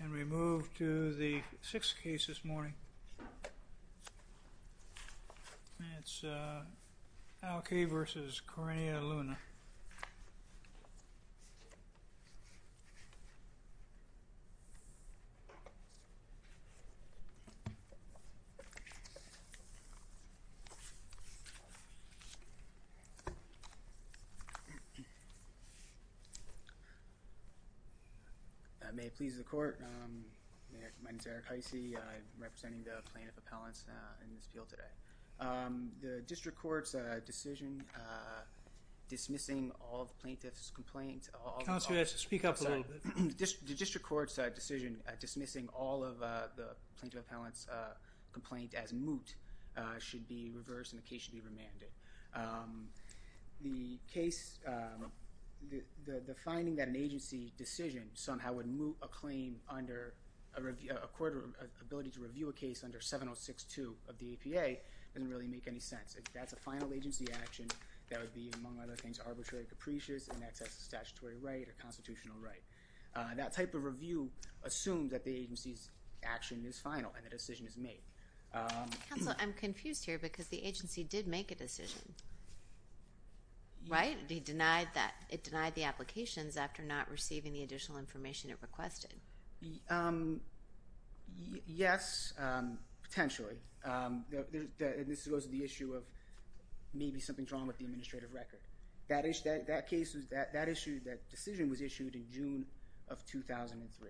and we move to the sixth case this morning. It's Alkady v. Corinna Luna May it please the court. My name is Eric Heise. I'm representing the plaintiff appellants in this field today. The district court's decision dismissing all the plaintiff's complaint. Counselor, speak up a little bit. The district court's decision dismissing all of the plaintiff appellant's complaint as moot should be reversed and the case should be remanded. The case, the finding that an agency decision somehow would moot a claim under a court ability to review a case under 7062 of the APA doesn't really make any sense. That's a final agency action that would be among other things arbitrary, capricious, in excess of statutory right or constitutional right. That type of review assumes that the agency's action is final and the decision is made. Counselor, I'm confused here because the agency did make a decision, right? It denied the applications after not receiving the additional information it requested. Yes, potentially. This goes to the issue of maybe something's wrong with the administrative record. That issue, that decision was issued in June of 2003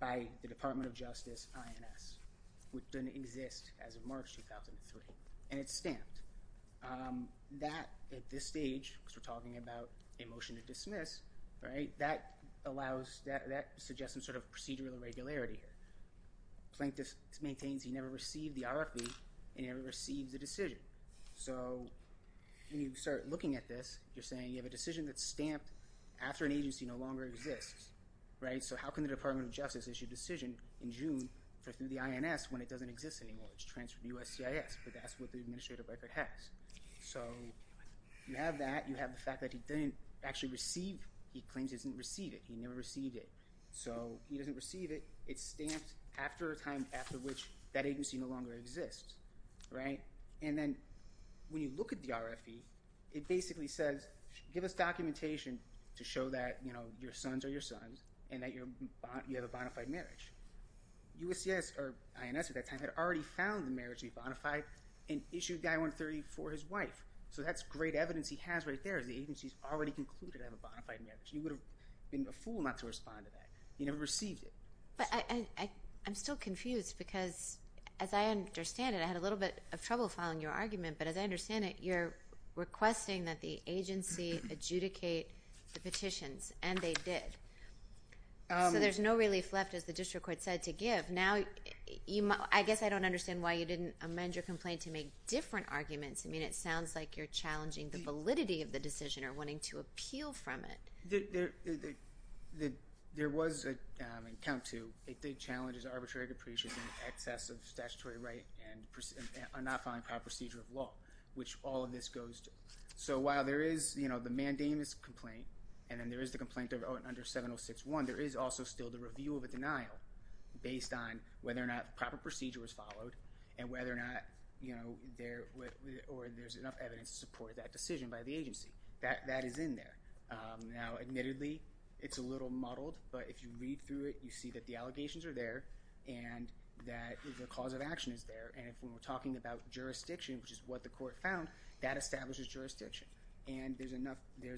by the Department of Justice, INS, which didn't exist as of March 2003 and it's stamped. That at this stage, because we're talking about a motion to dismiss, right, that allows, that suggests some sort of procedural irregularity here. Plaintiff maintains he never received the RFP and he never received the decision. So when you start looking at this, you're saying you have a decision that's stamped after an agency no longer exists, right? So how can the Department of Justice issue a decision in June for the INS when it doesn't exist anymore? It's transferred to USCIS, but that's what the administrative record has. So you have that, you have the fact that he didn't actually receive, he claims he didn't receive it, he never received it. So he doesn't receive it, it's stamped after a time after which that agency no longer exists, right? And then when you look at the RFP, it basically says give us documentation to show that, you know, your sons are your sons and that you have a bona fide marriage. USCIS, or INS at that time, had already found the marriage to be bona fide and issued the I-130 for his wife, so that's great evidence he has right there, the agency's already concluded to have a bona fide marriage. He would have been a fool not to respond to that. He never received it. But I'm still confused because as I understand it, I had a little bit of trouble following your argument, but as I understand it, you're requesting that the agency adjudicate the petitions and they did. So there's no relief left as the district court said to give. Now, I guess I don't understand why you didn't amend your complaint to make different arguments. I mean, it sounds like you're challenging the validity of the decision or wanting to appeal from it. There was an account to, if the challenge is arbitrary depreciation in excess of statutory right and not following proper procedure of law, which all of this goes to. So while there is, you know, the mandamus complaint and then there is the complaint under 706-1, there is also still the review of a denial based on whether or not proper procedure was followed and whether or not, you know, there or there's enough evidence to support that decision by the agency. That is in there. Now, admittedly, it's a little muddled, but if you read through it, you see that the allegations are there and that the cause of action is there. And if we're talking about jurisdiction, which is what the court found, that establishes jurisdiction. And there's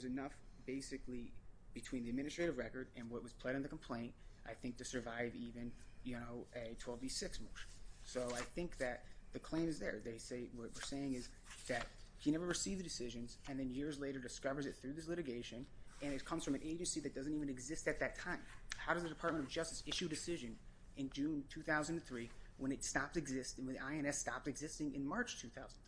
enough, basically, between the administrative record and what was pled in the complaint, I think, to survive even, you know, a 12b-6 motion. So I think that the claim is there. They say, what we're saying is that he never received the decisions and then years later discovers it through this litigation and it comes from an agency that doesn't even exist at that time. How does the Department of Justice issue decision in June 2003 when it stopped existing, when INS stopped existing in March 2003?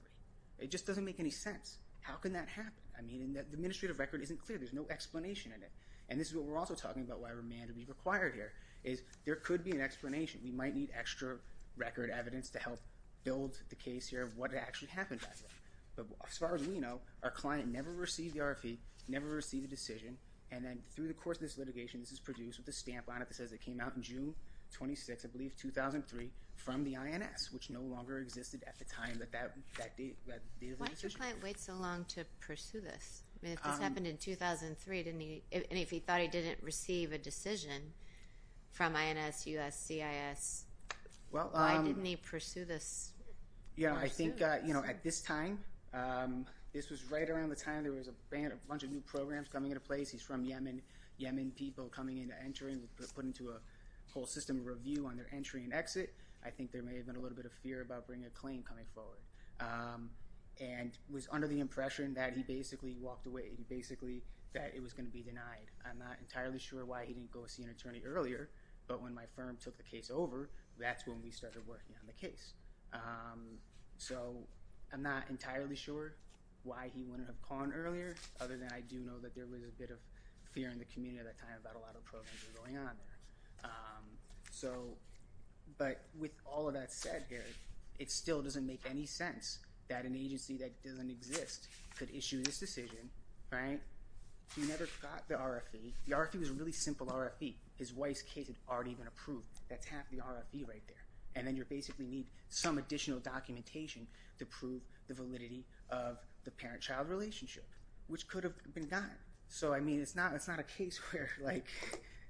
It just doesn't make any sense. How can that happen? I mean, it just isn't clear. There's no explanation in it. And this is what we're also talking about why remand would be required here, is there could be an explanation. We might need extra record evidence to help build the case here of what actually happened back then. But as far as we know, our client never received the RFE, never received a decision, and then through the course of this litigation, this is produced with a stamp on it that says it came out in June 26, I believe 2003, from the INS, which no longer existed at the time that that date of the decision was issued. Why did the client wait so long to pursue this? I mean, if this happened in 2003, and if he thought he didn't receive a decision from INS, USCIS, why didn't he pursue this? Yeah, I think, you know, at this time, this was right around the time there was a bunch of new programs coming into place. He's from Yemen, Yemen people coming into entering, put into a whole system of review on their entry and exit. I think there may have been a little bit of fear about bringing a claim coming forward, and was under the impression that he basically walked away, basically that it was going to be denied. I'm not entirely sure why he didn't go see an attorney earlier, but when my firm took the case over, that's when we started working on the case. So I'm not entirely sure why he wouldn't have gone earlier, other than I do know that there was a bit of fear in the community at that time about a lot of programs going on. So, but with all of that said here, it still doesn't make any sense that an agency that doesn't exist could issue this decision, right? He never got the RFE. The RFE was a really simple RFE. His wife's case had already been approved. That's half the RFE right there, and then you basically need some additional documentation to prove the validity of the parent-child relationship, which could have been done. So, I mean, it's not, it's not a case where, like,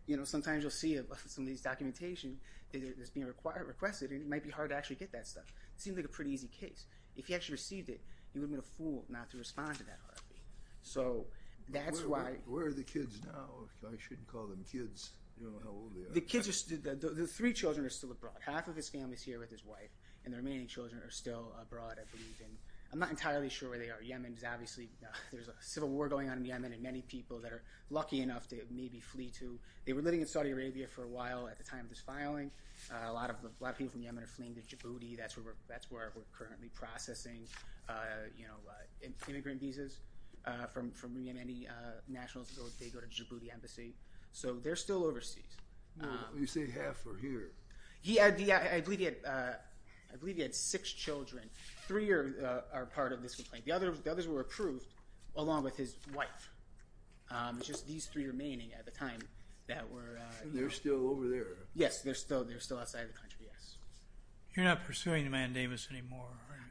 you know, sometimes you'll see some of these documentation that's being required, requested, and it might be hard to actually get that stuff. It seemed like a pretty easy case. If he actually received it, he would have been a fool not to respond to that RFE. So that's why... Where are the kids now? I shouldn't call them kids. The kids are, the three children are still abroad. Half of his family is here with his wife, and the remaining children are still abroad, I believe, and I'm not entirely sure where they are. Yemen's obviously, there's a civil war going on in Yemen, and many people that are lucky enough to maybe flee to... They were living in Saudi Arabia for a while at the time of this filing. A lot of people from Yemen are fleeing to Djibouti. That's where we're, that's where we're currently processing, you know, immigrant visas from Yemeni nationals. They go to Djibouti embassy. So they're still overseas. You say half are here. He had, I believe he had, I believe he had six children. Three are part of this complaint. The others were approved along with his wife. It's just these three remaining at the time that were... They're still over there. Yes, they're still, they're still outside of the country, yes. You're not pursuing Mandamus anymore?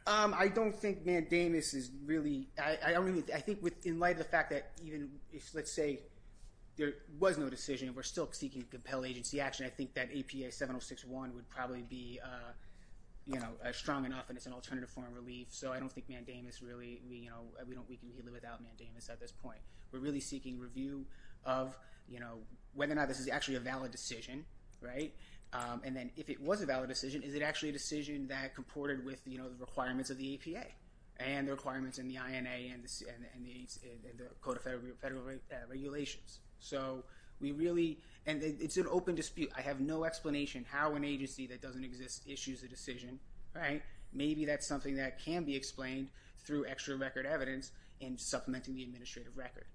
I don't think Mandamus is really... I don't really... I think with, in light of the fact that even if, let's say, there was no decision, if we're still seeking to compel agency action, I think that APA 7061 would probably be, you know, strong enough, and it's an alternative form of relief. So I don't think Mandamus really, you know, we don't, we can live without Mandamus at this point. We're really seeking review of, you know, whether or not this is actually a valid decision, right? And then if it was a valid decision, is it actually a decision that comported with, you know, the requirements of the APA and the requirements in the INA and the Code of Federal Regulations? So we really... and it's an open dispute. I have no explanation how an agency that doesn't exist issues a decision, right? Maybe that's something that can be explained through extra record evidence and supplementing the administrative record.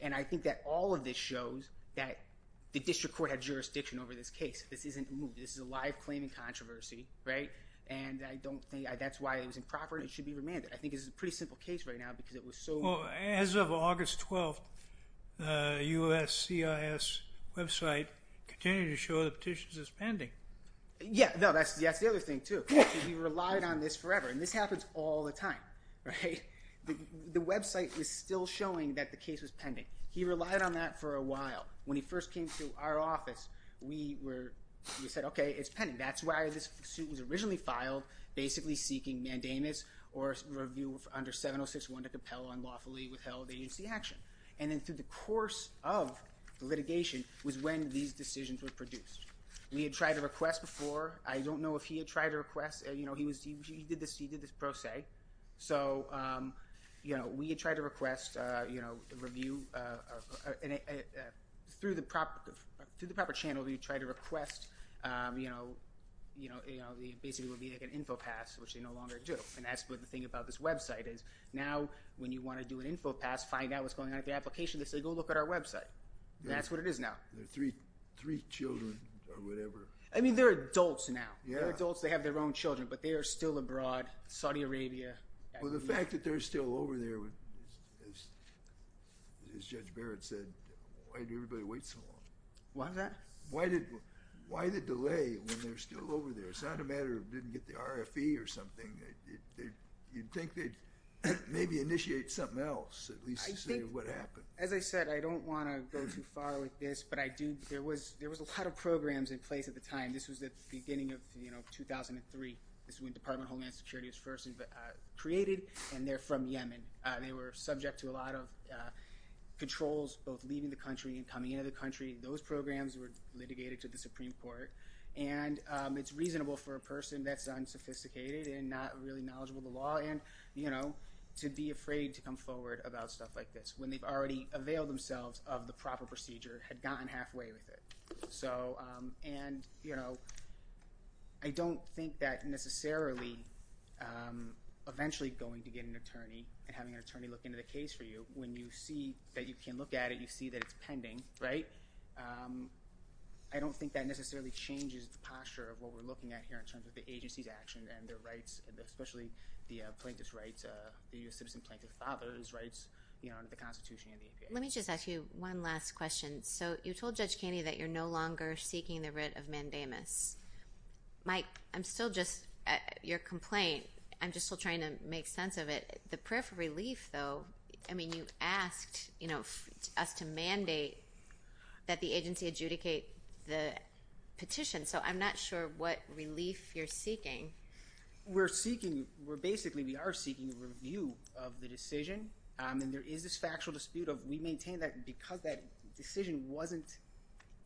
And I think that all of this shows that the district court had jurisdiction over this case. This isn't moved. This is a live claiming controversy, right? And I don't think that's why it was improper. It should be remanded. I think it's a pretty simple case right now because it was so... Well, as of August 12th, USCIS website continued to show the petitions as pending. Yeah, no, that's the other thing too. He relied on this forever, and this happens all the time, right? The website was still showing that the case was pending. He relied on that for a while. When he first came to our office, we were... we said, okay, it's pending. That's why this suit was originally filed, basically seeking mandamus or review under 706-1 to compel unlawfully withheld agency action. And then through the course of litigation was when these decisions were produced. We had tried to request before. I don't know if he had tried to request. He did this pro se. So we had tried to request a review. And through the proper channel, we tried to request basically would be like an info pass, which they no longer do. And that's what the thing about this website is. Now when you want to do an info pass, find out what's going on with the application, they say, go look at our website. That's what it is now. There are three children or whatever. I mean, they're adults now. They're adults. They have their own children, but they are still abroad, Saudi Arabia. Well, the fact that they're still over there, as Judge Barrett said, why did everybody wait so long? Why is that? Why the delay when they're still over there? It's not a matter of didn't get the RFE or something. You'd think they'd maybe initiate something else, at least to see what happened. As I said, I don't want to go too far with this, but there was a lot of programs in place at the time. This was at the beginning of 2003. This is when Department of Homeland Security was first created. And they're from Yemen. They were subject to a lot of controls, both leaving the country and coming into the country. Those programs were litigated to the Supreme Court. And it's reasonable for a person that's unsophisticated and not really knowledgeable the law and to be afraid to come forward about stuff like this when they've already availed themselves of the proper procedure, had gotten halfway with it. So, and, you know, I don't think that necessarily eventually going to get an attorney and having an attorney look into the case for you, when you see that you can look at it, you see that it's pending, right? I don't think that necessarily changes the posture of what we're looking at here in terms of the agency's and their rights, especially the plaintiff's rights, the U.S. citizen plaintiff's father's rights, you know, under the Constitution and the EPA. Let me just ask you one last question. So you told Judge Kani that you're no longer seeking the writ of mandamus. Mike, I'm still just, your complaint, I'm just still trying to make sense of it. The prayer for relief, though, I mean, you asked, you know, us to mandate that the agency adjudicate the petition. So I'm not sure what we're seeking. We're basically, we are seeking a review of the decision. And there is this factual dispute of we maintain that because that decision wasn't,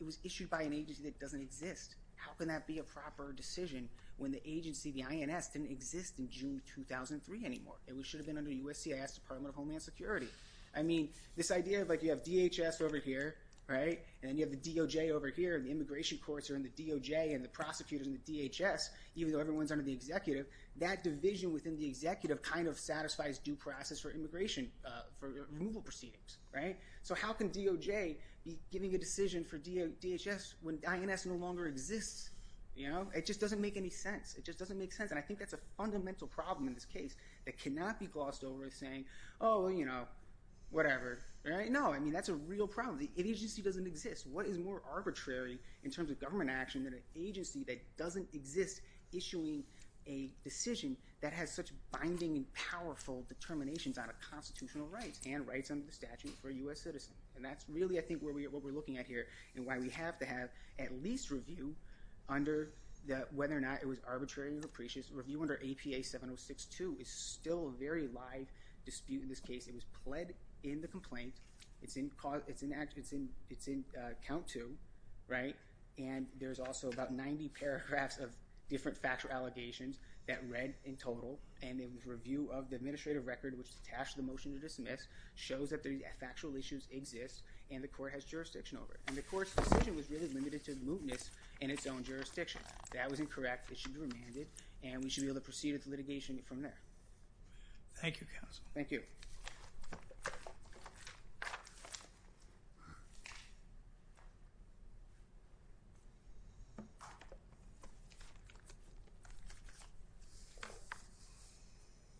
it was issued by an agency that doesn't exist. How can that be a proper decision when the agency, the INS, didn't exist in June 2003 anymore? It should have been under USCIS, Department of Homeland Security. I mean, this idea of like, you have DHS over here, right? And then you have the DOJ over here, and the immigration courts are in the DOJ and the prosecutors in the DHS, even though everyone's under the executive, that division within the executive kind of satisfies due process for immigration, for removal proceedings, right? So how can DOJ be giving a decision for DHS when INS no longer exists? You know, it just doesn't make any sense. It just doesn't make sense. And I think that's a fundamental problem in this case that cannot be glossed over as saying, oh, you know, whatever, right? No, I mean, that's a real problem. The agency doesn't exist. What is more arbitrary in terms of government action than an agency that doesn't exist issuing a decision that has such binding and powerful determinations on a constitutional rights and rights under the statute for a U.S. citizen? And that's really, I think, where we are, what we're looking at here, and why we have to have at least review under the, whether or not it was arbitrary or capricious. Review under APA 7062 is still a very live dispute in this case. It was pled in the complaint. It's in cause, it's in act, it's in, it's in account to, right? And there's also about 90 paragraphs of different factual allegations that read in total. And in the review of the administrative record, which is attached to the motion to dismiss, shows that the factual issues exist and the court has jurisdiction over it. And the court's decision was really limited to the mootness in its own jurisdiction. That was incorrect. It should be remanded, and we should be able to proceed with litigation from there. Thank you, counsel. Thank you.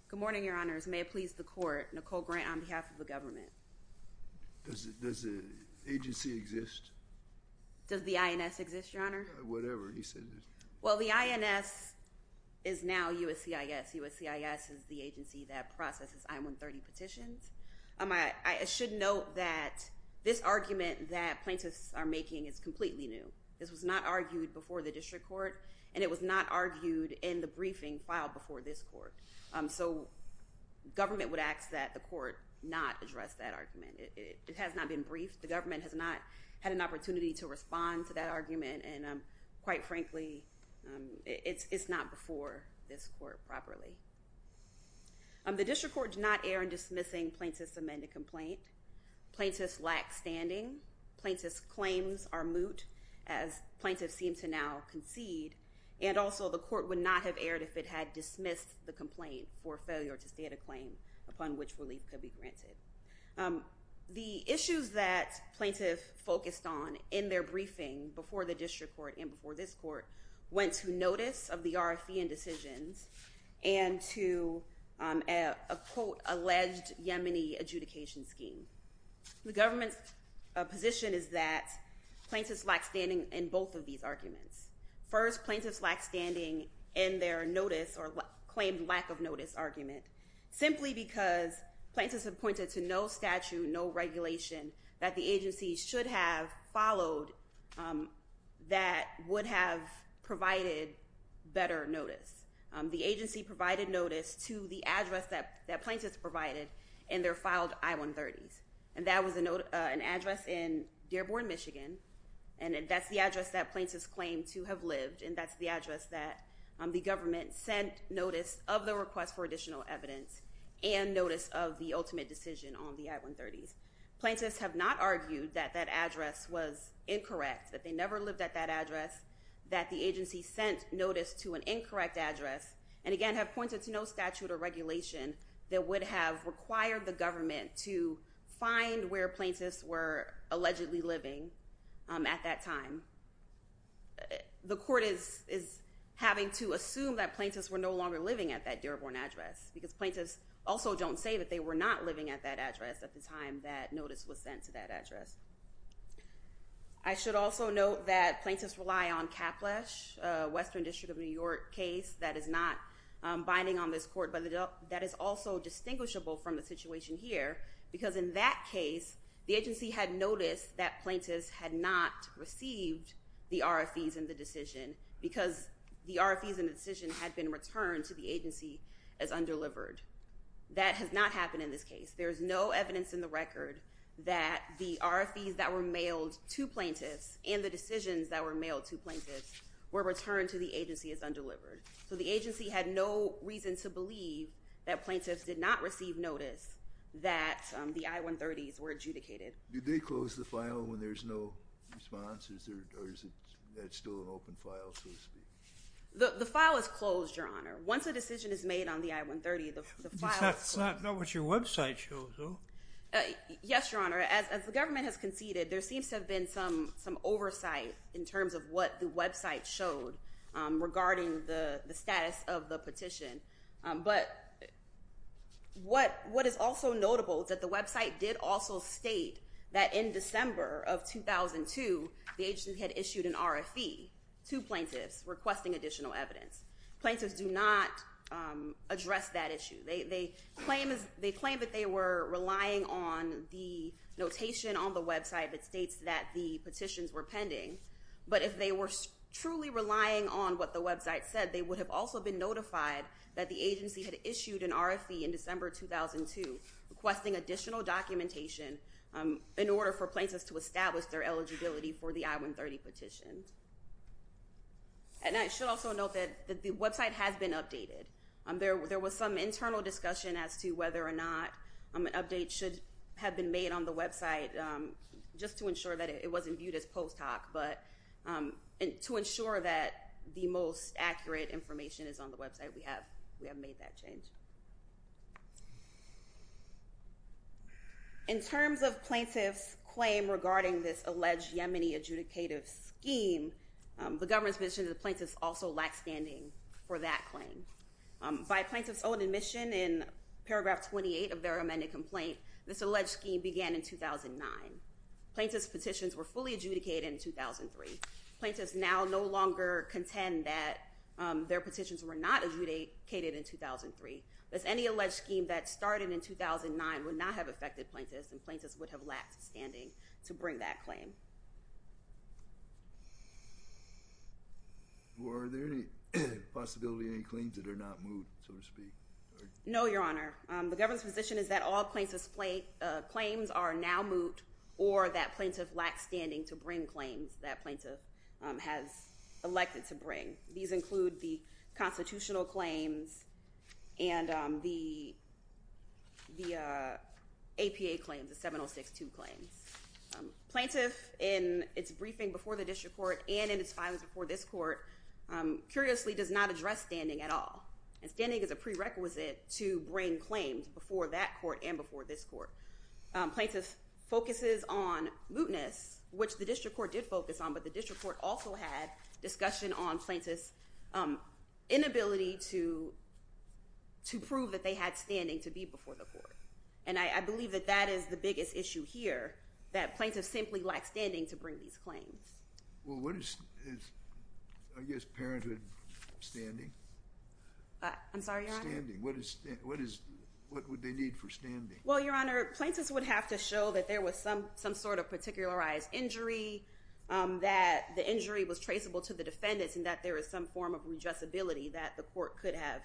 Good morning, your honors. May it please the court, Nicole Grant, on behalf of the government. Does the agency exist? Does the INS exist, your honor? Whatever, he said it. Well, the INS is now USCIS. USCIS is the agency that processes I-130 petitions. I should note that this argument that plaintiffs are making is completely new. This was not argued before the district court, and it was not argued in the briefing filed before this court. So government would ask that the court not address that argument. It has not been briefed. The government has not had an opportunity to respond to that argument, and quite frankly, it's not before this court properly. The district court did not err in dismissing plaintiff's amended complaint. Plaintiffs lack standing. Plaintiffs' claims are moot, as plaintiffs seem to now concede, and also the court would not have erred if it had dismissed the complaint for failure to state a claim upon which relief could be granted. The issues that plaintiffs focused on in their briefing before the district court and before this court went to notice of the RFE and decisions, and to a, quote, alleged Yemeni adjudication scheme. The government's position is that plaintiffs lack standing in both of these arguments. First, plaintiffs lack standing in their notice or claimed lack of notice argument, simply because plaintiffs have pointed to no statute, no regulation, that the agency should have followed that would have provided better notice. The agency provided notice to the address that plaintiffs provided in their filed I-130s, and that was an address in Dearborn, Michigan, and that's the address that plaintiffs claim to have lived, and that's the address that the government sent notice of the request for additional evidence and notice of the ultimate decision on the I-130s. Plaintiffs have not argued that that address was incorrect, that they never lived at that address, that the agency sent notice to an incorrect address, and again have pointed to no statute or regulation that would have required the government to find where plaintiffs were allegedly living at that time. The court is having to assume that plaintiffs were no longer living at that Dearborn address, because plaintiffs also don't say that they were not living at that address at the time that notice was sent to that address. I should also note that plaintiffs rely on Caplesh, a Western District of New York case that is not binding on this court, but that is also distinguishable from the situation here, because in that case, the agency had noticed that plaintiffs had not received the RFEs in the decision, because the RFEs in the decision had been returned to the agency as undelivered. That has not happened in this case. There is no evidence in the record that the RFEs that were mailed to plaintiffs and the decisions that were mailed to plaintiffs were returned to the agency as undelivered. So the agency had no reason to believe that plaintiffs did not receive notice that the I-130s were adjudicated. Did they close the file when there's no response, or is that still an open file, so to speak? The file is closed, Your Honor. Once a decision is made on the I-130, the file is closed. That's not what your website shows, though. Yes, Your Honor. As the government has conceded, there seems to have been some oversight in terms of what the website showed regarding the status of the petition. But what is also notable is that the website did also state that in December of 2002, the agency had issued an RFE to plaintiffs requesting additional evidence. Plaintiffs do not address that issue. They claim that they were relying on the notation on the website that states that the petitions were pending. But if they were truly relying on what the website said, they would have also been notified that the agency had issued an RFE in December 2002 requesting additional documentation in order for plaintiffs to establish their eligibility for the I-130 petition. And I should also note that the website has been updated. There was some internal discussion as to whether or not an update should have been made on the website just to ensure that it wasn't viewed as post hoc, but to ensure that the most accurate information is on the website, we have made that change. In terms of plaintiffs' claim regarding this alleged Yemeni adjudicative scheme, the government's position is that plaintiffs also lack standing for that claim. By plaintiffs' own admission in paragraph 28 of their amended complaint, this alleged scheme began in 2009. Plaintiffs' petitions were fully adjudicated in 2003. Plaintiffs now no longer contend that their petitions were not adjudicated in 2003, as any alleged scheme that started in 2009 would not have affected plaintiffs and plaintiffs would have lacked standing to bring that claim. Are there any possibilities of any claims that are not moot, so to speak? No, Your Honor. The government's position is that all plaintiffs' claims are now moot or that plaintiffs lack standing to bring claims that plaintiffs have elected to bring. These include the constitutional claims and the APA claims, the 7062 claims. Plaintiff, in its briefing before the district court and in its filing before this court, curiously does not address standing at all, and standing is a prerequisite to bring claims before that court and before this court. Plaintiff focuses on mootness, which the district court did focus on, but the district court also had discussion on plaintiffs' inability to prove that they had standing to be before the court. And I believe that that is the biggest issue here, that plaintiffs simply lack standing to bring these claims. Well, what is, I guess, parenthood standing? I'm sorry, Your Honor? Standing. What would they need for standing? Well, Your Honor, plaintiffs would have to show that there was some sort of particularized injury, that the injury was traceable to the defendants, and that there was some form of redressability that the court could have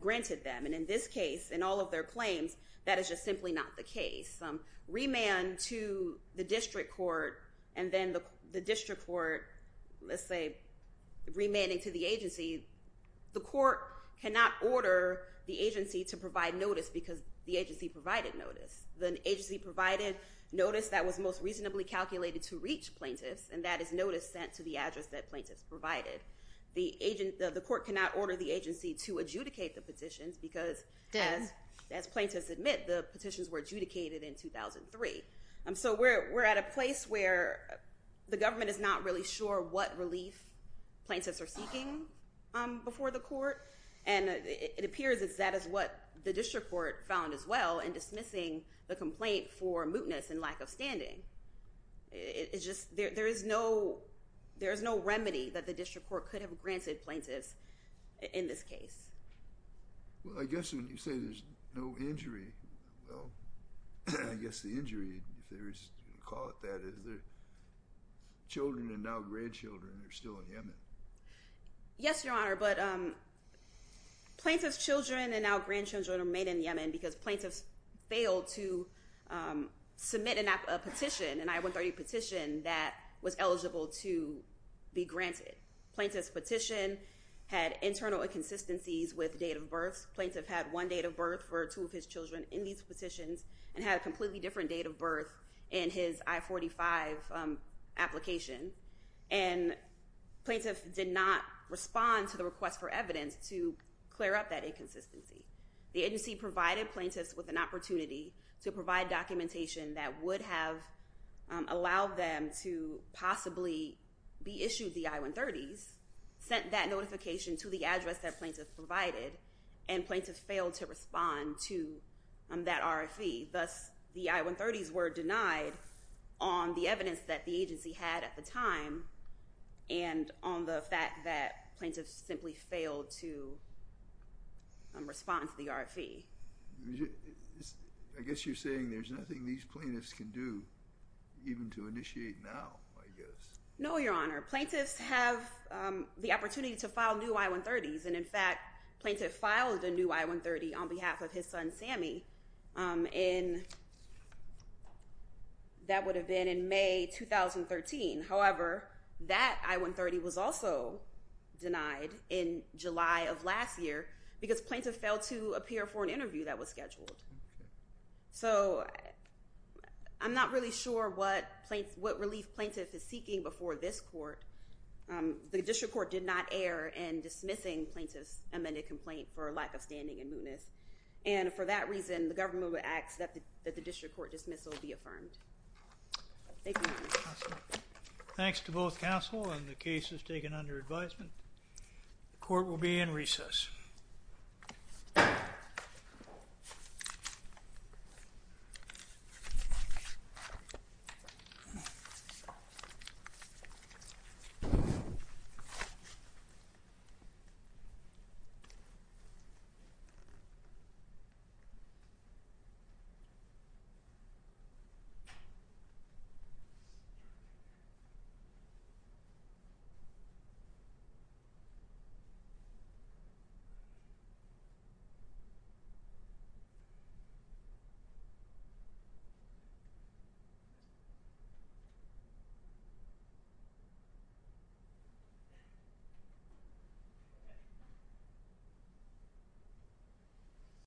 granted them. And in this case, in all of their claims, that is just simply not the case. Remand to the district court, and then the district court, let's say, remanding to the agency, the court cannot order the agency to provide notice because the agency provided notice. The agency provided notice that was most reasonably calculated to reach plaintiffs, and that is notice sent to the address that plaintiffs provided. The court cannot order the agency to adjudicate the petitions because, as plaintiffs admit, the petitions were adjudicated in 2003. So we're at a place where the government is not really sure what relief plaintiffs are seeking before the court, and it appears that that is what the district court found as well in dismissing the complaint for mootness and lack of standing. It's just there is no remedy that the district court could have granted plaintiffs in this case. Well, I guess when you say there's no injury, well, I guess the injury, if you call it that, is that children and now grandchildren are still in Yemen. Yes, Your Honor, but plaintiffs' children and now grandchildren remain in Yemen because plaintiffs failed to submit a petition, an I-130 petition, that was eligible to be granted. Plaintiff's petition had internal inconsistencies with date of birth. Plaintiff had one date of birth for two of his children in these petitions and had a completely different date of birth in his I-45 application, and plaintiff did not respond to the request for evidence to clear up that inconsistency. The agency provided plaintiffs with an opportunity to provide documentation that would have allowed them to possibly be issued the I-130s, sent that notification to the address that plaintiffs provided, and plaintiffs failed to respond to that RFE. Thus, the I-130s were denied on the evidence that the agency had at the time and on the fact that plaintiffs simply failed to respond to the RFE. I guess you're saying there's nothing these plaintiffs can do, even to initiate now, I guess. No, Your Honor. Plaintiffs have the opportunity to file new I-130s, and in fact, plaintiff filed a new I-130 on behalf of his son, Sammy, and that would have been in May 2013. However, that I-130 was also denied in July of last year because plaintiff failed to appear for an interview that was scheduled. So I'm not really sure what relief plaintiff is seeking before this court. The district court did not err in dismissing plaintiff's amended complaint for lack of standing and mootness, and for that reason, the government would ask that the district court dismissal be affirmed. Thank you, Your Honor. Thanks to both counsel and the cases taken under advisement. The court will be in recess. Thank you. Thank you.